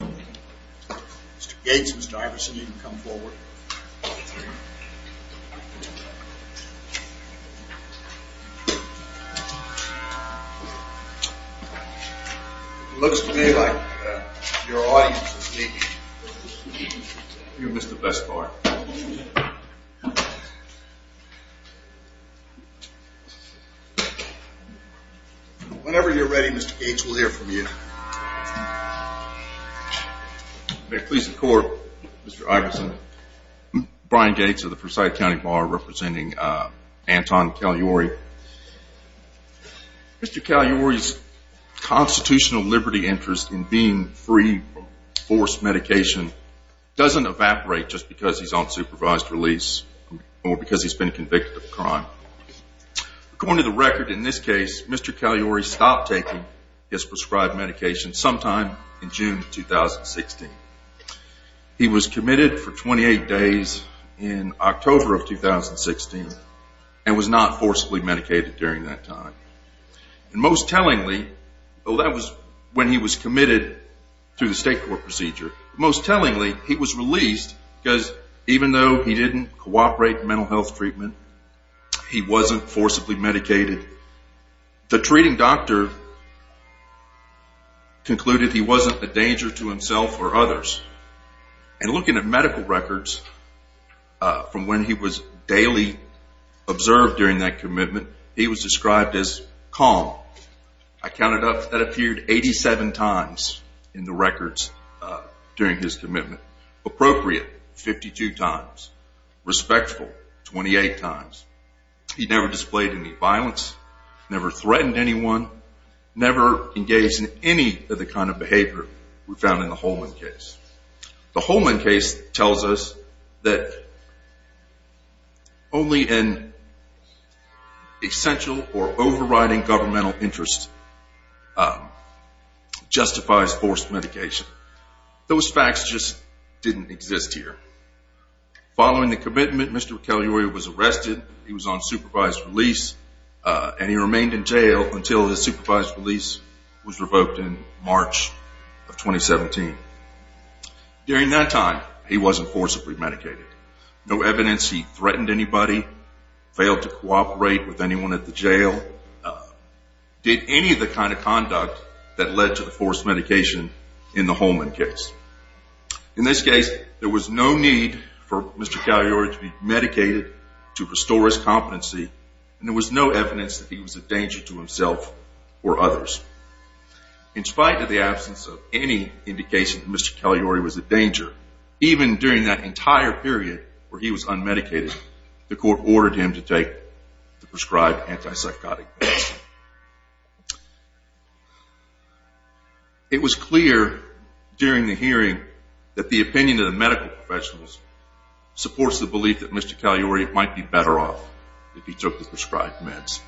Mr. Gates, Mr. Iverson, you can come forward. It looks to me like your audience is meeting. You missed the best part. Whenever you're ready, Mr. Gates will hear from you. May it please the court, Mr. Iverson. Brian Gates of the Forsyth County Bar representing Anton Caluori. Mr. Caluori's constitutional liberty interest in being free from forced medication doesn't evaporate just because he's on supervised release or because he's been convicted of a crime. According to the record, in this case, Mr. Caluori stopped taking his prescribed medication sometime in June 2016. He was committed for 28 days in October of 2016 and was not forcibly medicated during that time. Most tellingly, that was when he was committed to the state court procedure. Most tellingly, he was released because even though he didn't cooperate in mental health treatment, he wasn't forcibly medicated. The treating doctor concluded he wasn't a danger to himself or others. And looking at medical records from when he was daily observed during that commitment, he was described as calm. I counted up, that appeared 87 times in the records during his commitment. Appropriate, 52 times. Respectful, 28 times. He never displayed any violence, never threatened anyone, never engaged in any of the kind of behavior we found in the Holman case. The Holman case tells us that only an essential or overriding governmental interest justifies forced medication. Those facts just didn't exist here. Following the commitment, Mr. Caliore was arrested, he was on supervised release, and he remained in jail until his supervised release was revoked in March of 2017. During that time, he wasn't forcibly medicated. No evidence he threatened anybody, failed to cooperate with anyone at the jail, did any of the kind of conduct that led to the forced medication in the Holman case. In this case, there was no need for Mr. Caliore to be medicated to restore his competency, and there was no evidence that he was a danger to himself or others. In spite of the absence of any indication that Mr. Caliore was a danger, even during that entire period where he was unmedicated, the court ordered him to take the prescribed antipsychotic medicine. It was clear during the hearing that the opinion of the medical professionals supports the belief that Mr. Caliore might be better off if he took the prescribed meds.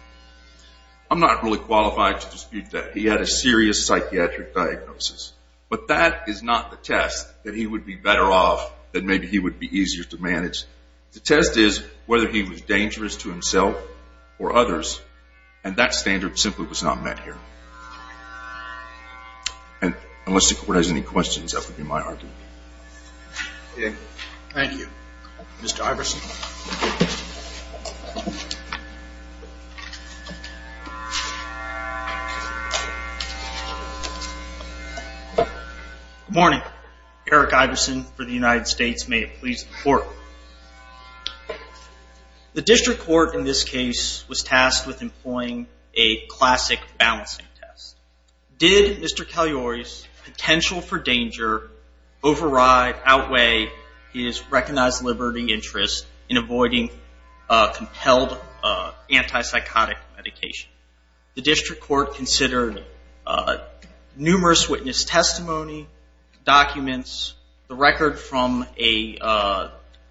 I'm not really qualified to dispute that he had a serious psychiatric diagnosis, but that is not the test that he would be better off, that maybe he would be easier to manage. The test is whether he was dangerous to himself or others, and that standard simply was not met here. And unless the court has any questions, that would be my argument. Thank you. Mr. Iverson. Good morning. Eric Iverson for the United States. May it please the court. The district court in this case was tasked with employing a classic balancing test. Did Mr. Caliore's potential for danger override, outweigh, his recognized liberty interest in avoiding a compelled antipsychotic medication? The district court considered numerous witness testimony, documents, the record from a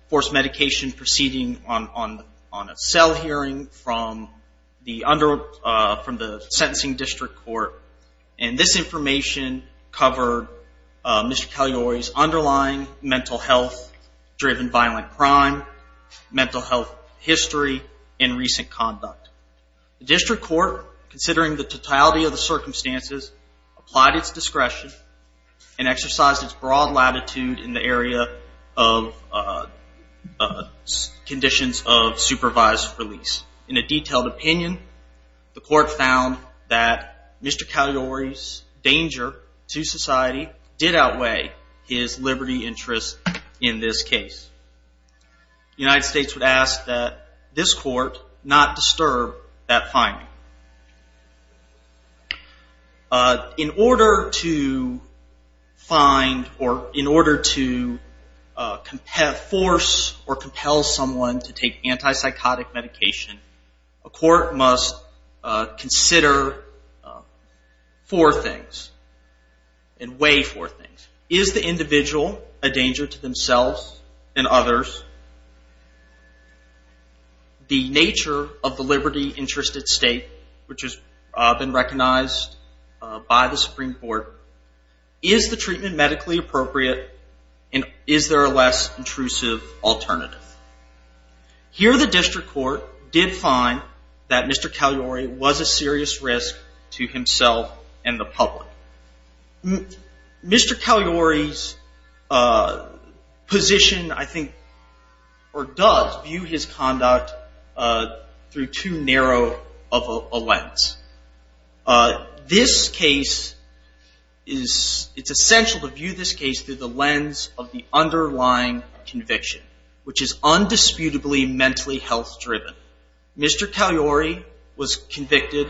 forced medication proceeding on a cell hearing from the sentencing district court. And this information covered Mr. Caliore's underlying mental health-driven violent crime, mental health history, and recent conduct. The district court, considering the totality of the circumstances, applied its discretion and exercised its broad latitude in the area of conditions of supervised release. In a detailed opinion, the court found that Mr. Caliore's danger to society did outweigh his liberty interest in this case. The United States would ask that this court not disturb that finding. In order to find, or in order to force or compel someone to take antipsychotic medication, a court must consider four things, and weigh four things. Is the individual a danger to themselves and others? The nature of the liberty interest at stake, which has been recognized by the Supreme Court, is the treatment medically appropriate, and is there a less intrusive alternative? Here, the district court did find that Mr. Caliore was a serious risk to himself and the public. Mr. Caliore's position, I think, or does view his conduct through too narrow of a lens. This case is, it's essential to view this case through the lens of the underlying conviction, which is undisputably mentally health-driven. Mr. Caliore was convicted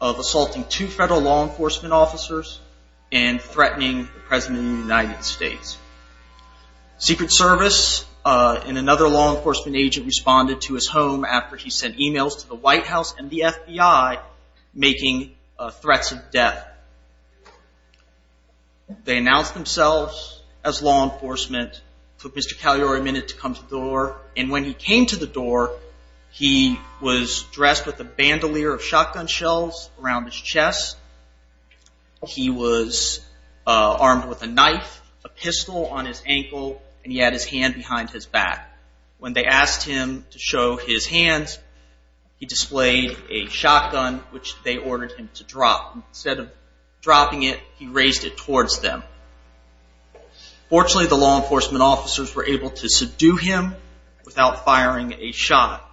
of assaulting two federal law enforcement officers and threatening the President of the United States. Secret Service and another law enforcement agent responded to his home after he sent emails to the White House and the FBI making threats of death. They announced themselves as law enforcement, took Mr. Caliore a minute to come to the door, and when he came to the door, he was dressed with a bandolier of shotgun shells around his chest. He was armed with a knife, a pistol on his ankle, and he had his hand behind his back. When they asked him to show his hands, he displayed a shotgun, which they ordered him to drop. Instead of dropping it, he raised it towards them. Fortunately, the law enforcement officers were able to subdue him without firing a shot.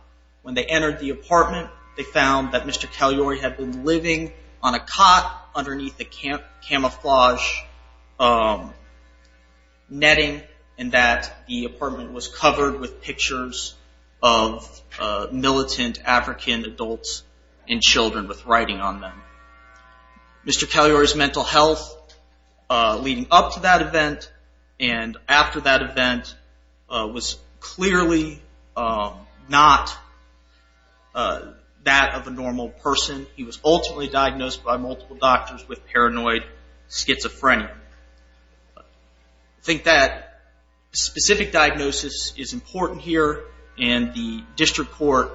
When they entered the apartment, they found that Mr. Caliore had been living on a cot underneath a camouflage netting and that the apartment was covered with pictures of militant African adults and children with writing on them. Mr. Caliore's mental health leading up to that event and after that event was clearly not that of a normal person. He was ultimately diagnosed by multiple doctors with paranoid schizophrenia. I think that specific diagnosis is important here, and the district court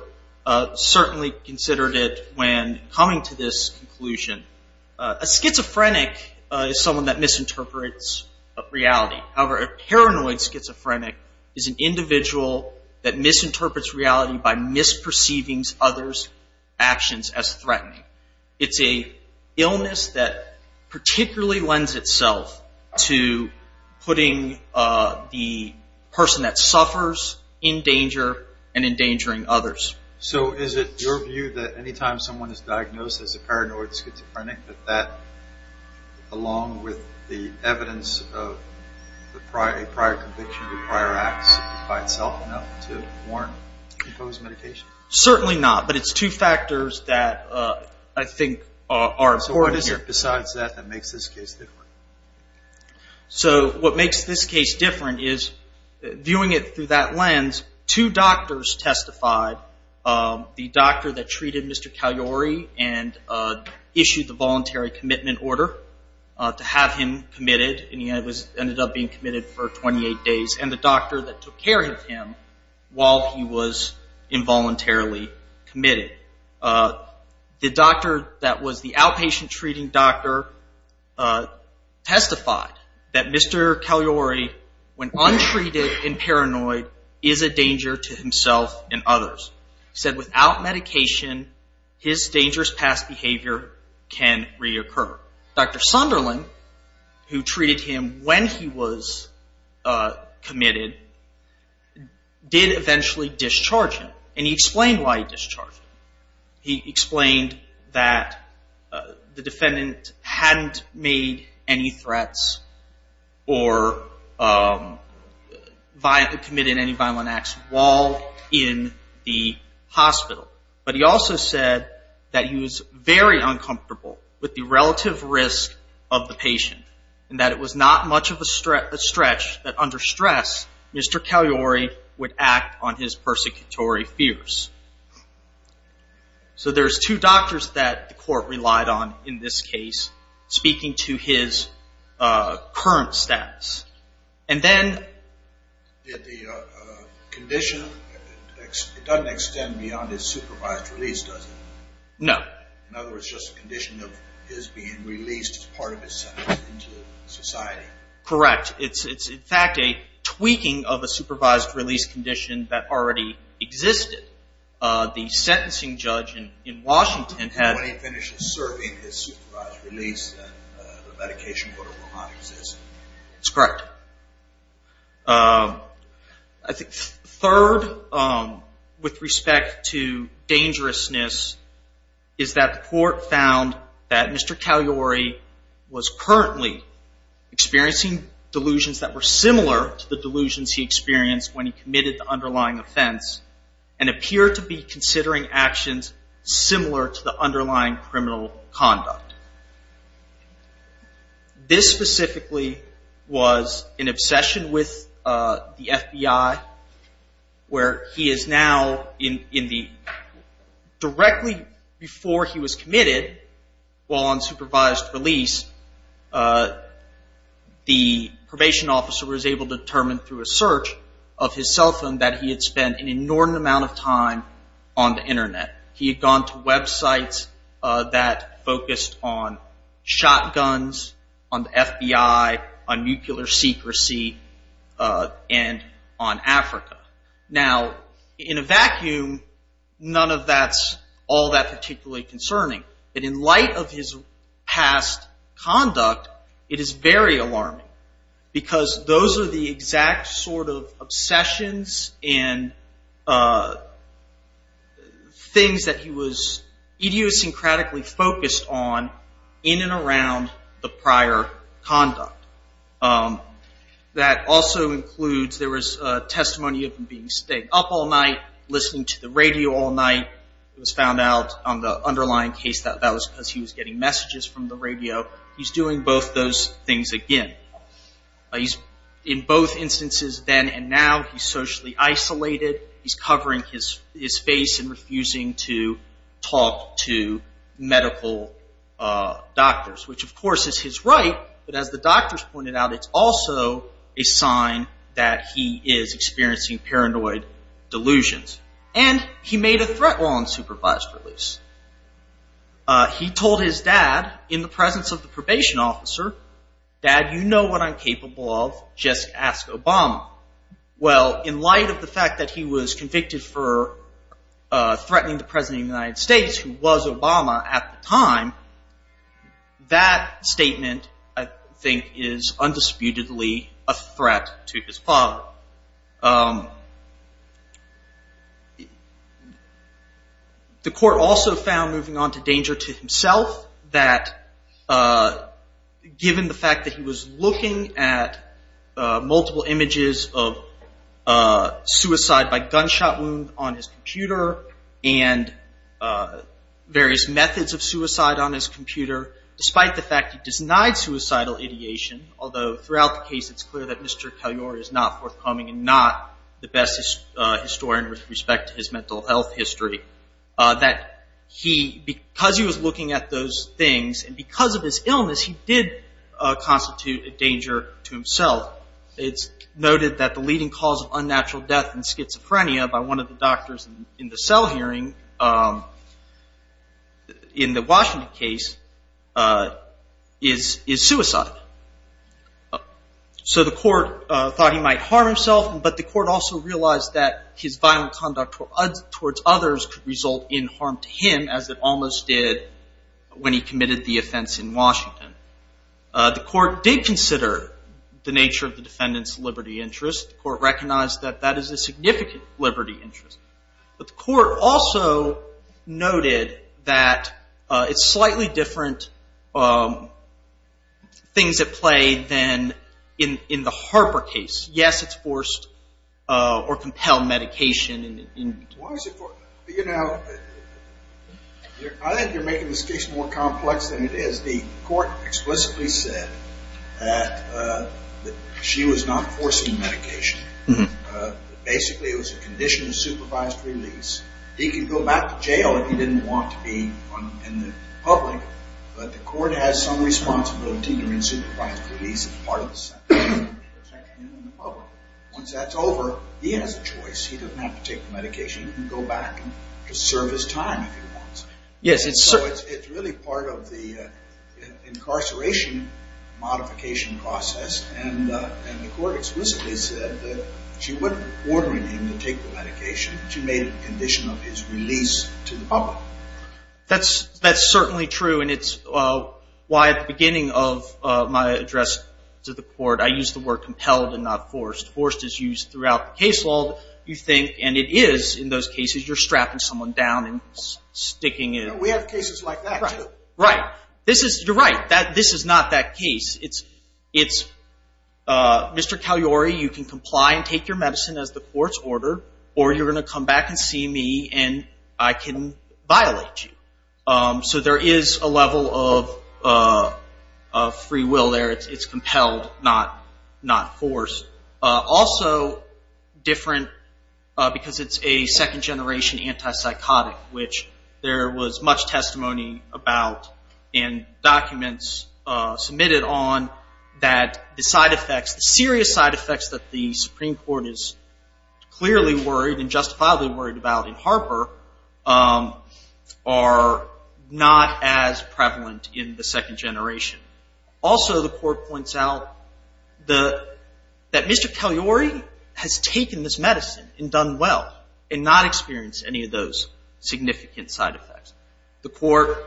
certainly considered it when coming to this conclusion. A schizophrenic is someone that misinterprets reality. However, a paranoid schizophrenic is an individual that misinterprets reality by misperceiving others' actions as threatening. It's an illness that particularly lends itself to putting the person that suffers in danger and endangering others. So is it your view that anytime someone is diagnosed as a paranoid schizophrenic, that that, along with the evidence of a prior conviction or prior acts, is by itself enough to warrant imposed medication? Certainly not, but it's two factors that I think are important here. So what is it besides that that makes this case different? So what makes this case different is, viewing it through that lens, two doctors testified. The doctor that treated Mr. Caliore and issued the voluntary commitment order to have him committed, and he ended up being committed for 28 days, and the doctor that took care of him while he was involuntarily committed. The doctor that was the outpatient treating doctor testified that Mr. Caliore, when untreated and paranoid, is a danger to himself and others. He said without medication, his dangerous past behavior can reoccur. Dr. Sunderland, who treated him when he was committed, did eventually discharge him, and he explained why he discharged him. He explained that the defendant hadn't made any threats or committed any violent acts while in the hospital. But he also said that he was very uncomfortable with the relative risk of the patient, and that it was not much of a stretch that under stress, Mr. Caliore would act on his persecutory fears. So there's two doctors that the court relied on in this case, speaking to his current status. Did the condition, it doesn't extend beyond his supervised release, does it? No. In other words, just a condition of his being released as part of his sentence into society. Correct. It's in fact a tweaking of a supervised release condition that already existed. The sentencing judge in Washington had... When he finishes serving his supervised release, the medication order will not exist. Correct. I think third, with respect to dangerousness, is that the court found that Mr. Caliore was currently experiencing delusions that were similar to the delusions he experienced when he committed the underlying offense, and appeared to be considering actions similar to the underlying criminal conduct. This specifically was an obsession with the FBI, where he is now in the... Directly before he was committed, while on supervised release, the probation officer was able to determine through a search of his cell phone that he had spent an enormous amount of time on the internet. He had gone to websites that focused on shotguns, on the FBI, on nuclear secrecy, and on Africa. Now, in a vacuum, none of that's all that particularly concerning. But in light of his past conduct, it is very alarming, because those are the exact sort of obsessions and things that he was idiosyncratically focused on in and around the prior conduct. That also includes, there was testimony of him being staying up all night, listening to the radio all night. It was found out on the underlying case that that was because he was getting messages from the radio. He's doing both those things again. In both instances, then and now, he's socially isolated. He's covering his face and refusing to talk to medical doctors, which, of course, is his right. But as the doctors pointed out, it's also a sign that he is experiencing paranoid delusions. And he made a threat while on supervised release. He told his dad, in the presence of the probation officer, Dad, you know what I'm capable of. Just ask Obama. Well, in light of the fact that he was convicted for threatening the President of the United States, who was Obama at the time, that statement, I think, is undisputedly a threat to his father. The court also found, moving on to danger to himself, that given the fact that he was looking at multiple images of suicide by gunshot wound on his computer and various methods of suicide on his computer, despite the fact he denied suicidal ideation, although throughout the case it's clear that Mr. Cagliari is not forthcoming and not the best historian with respect to his mental health history, that because he was looking at those things, and because of his illness, he did constitute a danger to himself. It's noted that the leading cause of unnatural death in schizophrenia by one of the doctors in the cell hearing in the Washington case is suicide. So the court thought he might harm himself, but the court also realized that his violent conduct towards others could result in harm to him, as it almost did when he committed the offense in Washington. The court did consider the nature of the defendant's liberty interest. The court recognized that that is a significant liberty interest. But the court also noted that it's slightly different things at play than in the Harper case. Yes, it's forced or compelled medication. Why is it forced? You know, I think you're making this case more complex than it is. The court explicitly said that she was not forcing the medication. Basically it was a condition of supervised release. He could go back to jail if he didn't want to be in the public, but the court has some responsibility during supervised release as part of the sanctioning of protection in the public. Once that's over, he has a choice. He doesn't have to take the medication. He can go back and serve his time if he wants. So it's really part of the incarceration modification process, and the court explicitly said that she wasn't ordering him to take the medication. She made it a condition of his release to the public. That's certainly true, and it's why at the beginning of my address to the court I used the word compelled and not forced. Forced is used throughout the case law. You think, and it is in those cases, you're strapping someone down and sticking it. We have cases like that too. Right. You're right. This is not that case. It's Mr. Caliore, you can comply and take your medicine as the court's order, or you're going to come back and see me and I can violate you. So there is a level of free will there. It's compelled, not forced. Also different because it's a second generation antipsychotic, which there was much testimony about and documents submitted on that the side effects, the serious side effects that the Supreme Court is clearly worried and justifiably worried about in Harper are not as prevalent in the second generation. Also the court points out that Mr. Caliore has taken this medicine and done well and not experienced any of those significant side effects. The court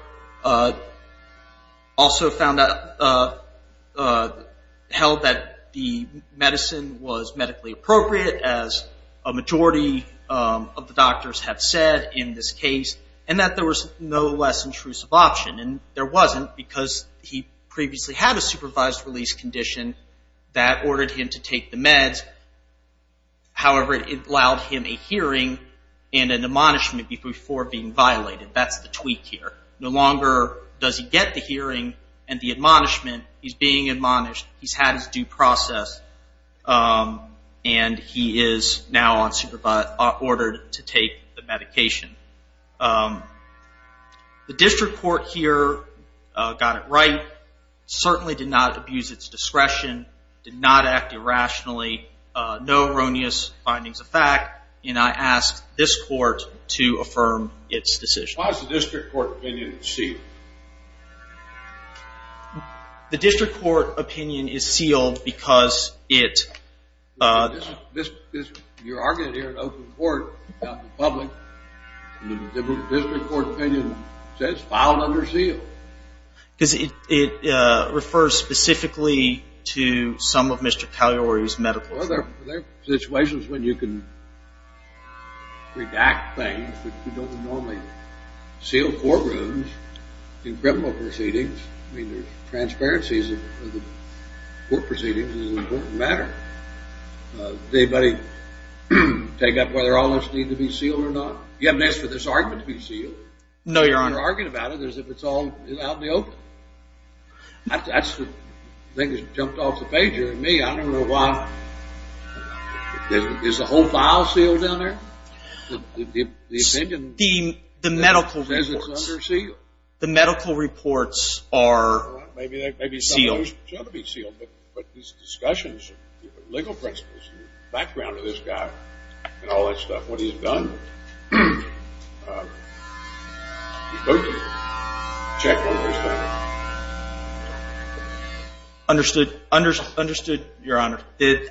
also found out, held that the medicine was medically appropriate, as a majority of the doctors have said in this case, and that there was no less intrusive option. And there wasn't because he previously had a supervised release condition that ordered him to take the meds. However, it allowed him a hearing and an admonishment before being violated. That's the tweak here. No longer does he get the hearing and the admonishment, he's being admonished, he's had his due process, and he is now ordered to take the medication. The district court here got it right, certainly did not abuse its discretion, did not act irrationally, no erroneous findings of fact, and I ask this court to affirm its decision. Why is the district court opinion sealed? The district court opinion is sealed because it... You're arguing here in open court about the public, and the district court opinion says it's filed under seal. Because it refers specifically to some of Mr. Caliore's medical... Well, there are situations when you can redact things, but you don't normally seal courtrooms in criminal proceedings. I mean, there's transparencies of the court proceedings, and it's an important matter. Did anybody take up whether all this needed to be sealed or not? You haven't asked for this argument to be sealed? No, Your Honor. You're arguing about it as if it's all out in the open. That's the thing that jumped off the page here to me. I don't know why... Is the whole file sealed down there? The opinion... The medical reports... ...says it's under seal. The medical reports are sealed. The discussions, the legal principles, the background of this guy, and all that stuff, what he's done... He's broken it. Check on those things. Understood, Your Honor. And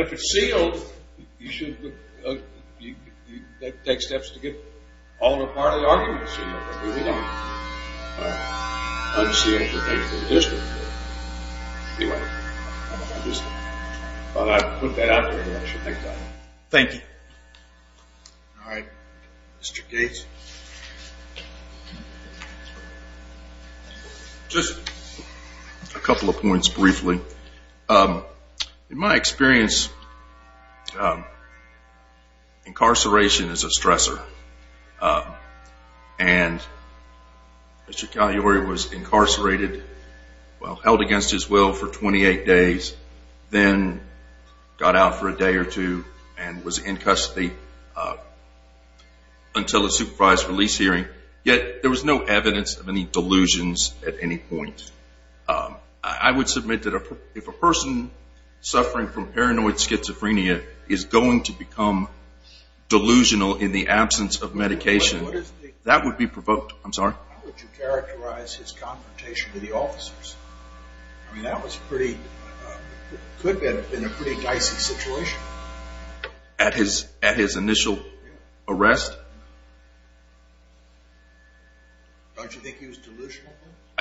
if it's sealed, you should take steps to get all or part of the arguments sealed. We don't unseal the things in the district court. Anyway, I just thought I'd put that out there. Thank you, Your Honor. Thank you. All right, Mr. Gates. Just a couple of points briefly. In my experience, incarceration is a stressor. And Mr. Caliore was incarcerated, well, held against his will for 28 days, then got out for a day or two, and was in custody until the supervised release hearing. Yet there was no evidence of any delusions at any point. I would submit that if a person suffering from paranoid schizophrenia is going to become delusional in the absence of medication, that would be provoked... I'm sorry? How would you characterize his confrontation with the officers? I mean, that was pretty... Could have been a pretty dicey situation. At his initial arrest? Don't you think he was delusional?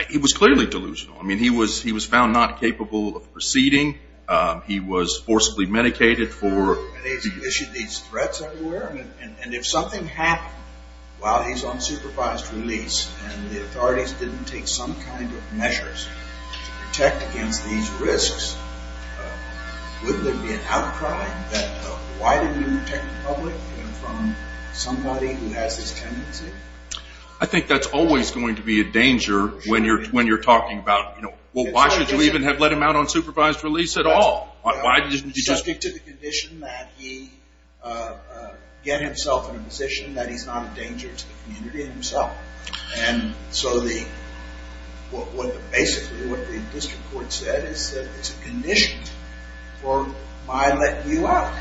He was clearly delusional. I mean, he was found not capable of proceeding. He was forcibly medicated for... And he's issued these threats everywhere. And if something happened while he's on supervised release, and the authorities didn't take some kind of measures to protect against these risks, wouldn't there be an outcry that, why didn't you protect the public from somebody who has this tendency? I think that's always going to be a danger when you're talking about, well, why should you even have let him out on supervised release at all? Why didn't you just... Subject to the condition that he get himself in a position that he's not a danger to the community himself. And so the... Basically, what the district court said is that it's a condition for my letting you out.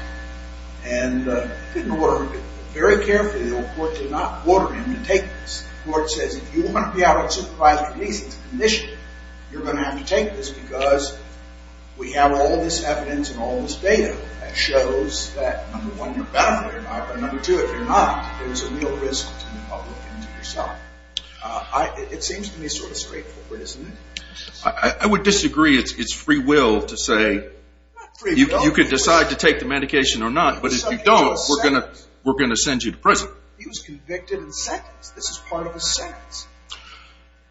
And it didn't work. Very carefully, the old court did not order him to take this. The court says, if you want to be out on supervised release, it's a condition. You're going to have to take this because we have all this evidence and all this data that shows that, number one, you're benefiting, but number two, if you're not, there's a real risk to the public and to yourself. It seems to me sort of straightforward, isn't it? I would disagree. It's free will to say, you could decide to take the medication or not, but if you don't, we're going to send you to prison. He was convicted and sentenced. This is part of his sentence.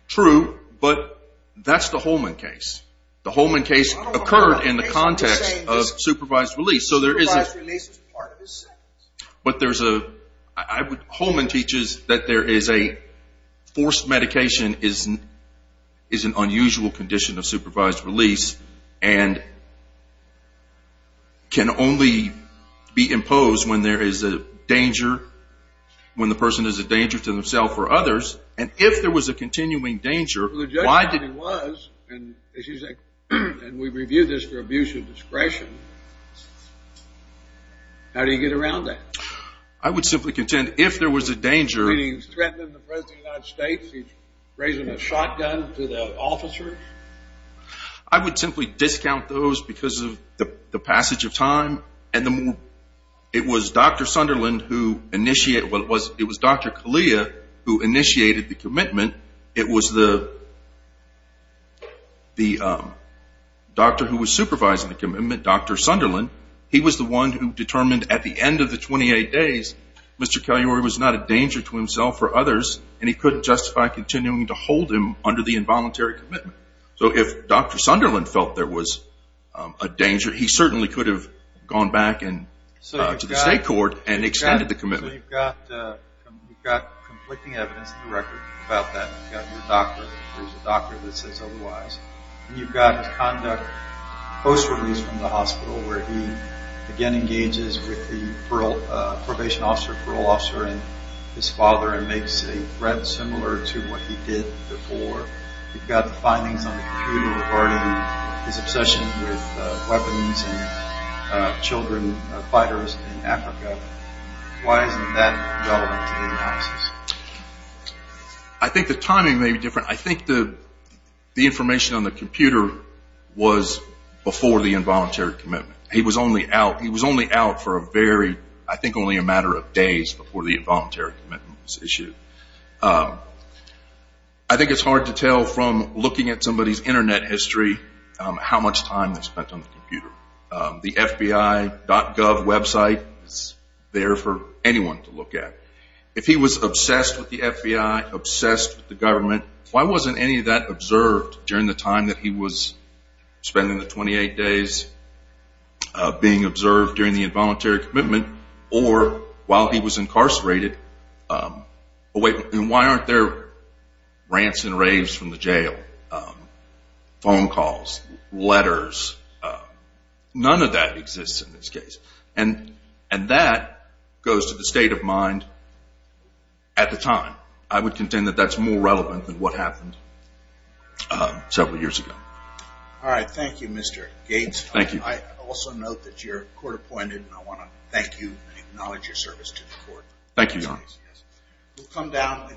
True, but that's the Holman case. The Holman case occurred in the context of supervised release. Supervised release is part of his sentence. But there's a... Holman teaches that there is a... Forced medication is an unusual condition of supervised release and can only be imposed when there is a danger, when the person is a danger to themself or others, and if there was a continuing danger, And we've reviewed this for abuse of discretion. How do you get around that? I would simply contend, if there was a danger... Meaning he's threatening the President of the United States? He's raising a shotgun to the officer? I would simply discount those because of the passage of time and the more... It was Dr. Sunderland who initiated... Well, it was Dr. Kalia who initiated the commitment. It was the doctor who was supervising the commitment, Dr. Sunderland. He was the one who determined at the end of the 28 days, Mr. Kaliuri was not a danger to himself or others, and he couldn't justify continuing to hold him under the involuntary commitment. So if Dr. Sunderland felt there was a danger, he certainly could have gone back to the state court and extended the commitment. So you've got conflicting evidence in the record about that. You've got your doctor, there's a doctor that says otherwise. You've got his conduct post-release from the hospital where he again engages with the probation officer, parole officer, and his father and makes a threat similar to what he did before. You've got the findings on the computer regarding his obsession with weapons and children fighters in Africa. Why isn't that relevant to the analysis? I think the timing may be different. I think the information on the computer was before the involuntary commitment. He was only out for a very, I think only a matter of days before the involuntary commitment was issued. I think it's hard to tell from looking at somebody's internet history how much time they spent on the computer. The FBI.gov website is there for anyone to look at. If he was obsessed with the FBI, obsessed with the government, why wasn't any of that observed during the time that he was spending the 28 days being observed during the involuntary commitment or while he was incarcerated? Why aren't there rants and raves from the jail, phone calls, letters? None of that exists in this case. That goes to the state of mind at the time. I would contend that that's more relevant than what happened several years ago. Alright, thank you Mr. Gates. Thank you. I also note that you're court appointed and I want to thank you and acknowledge your service to the court. Thank you, Your Honor.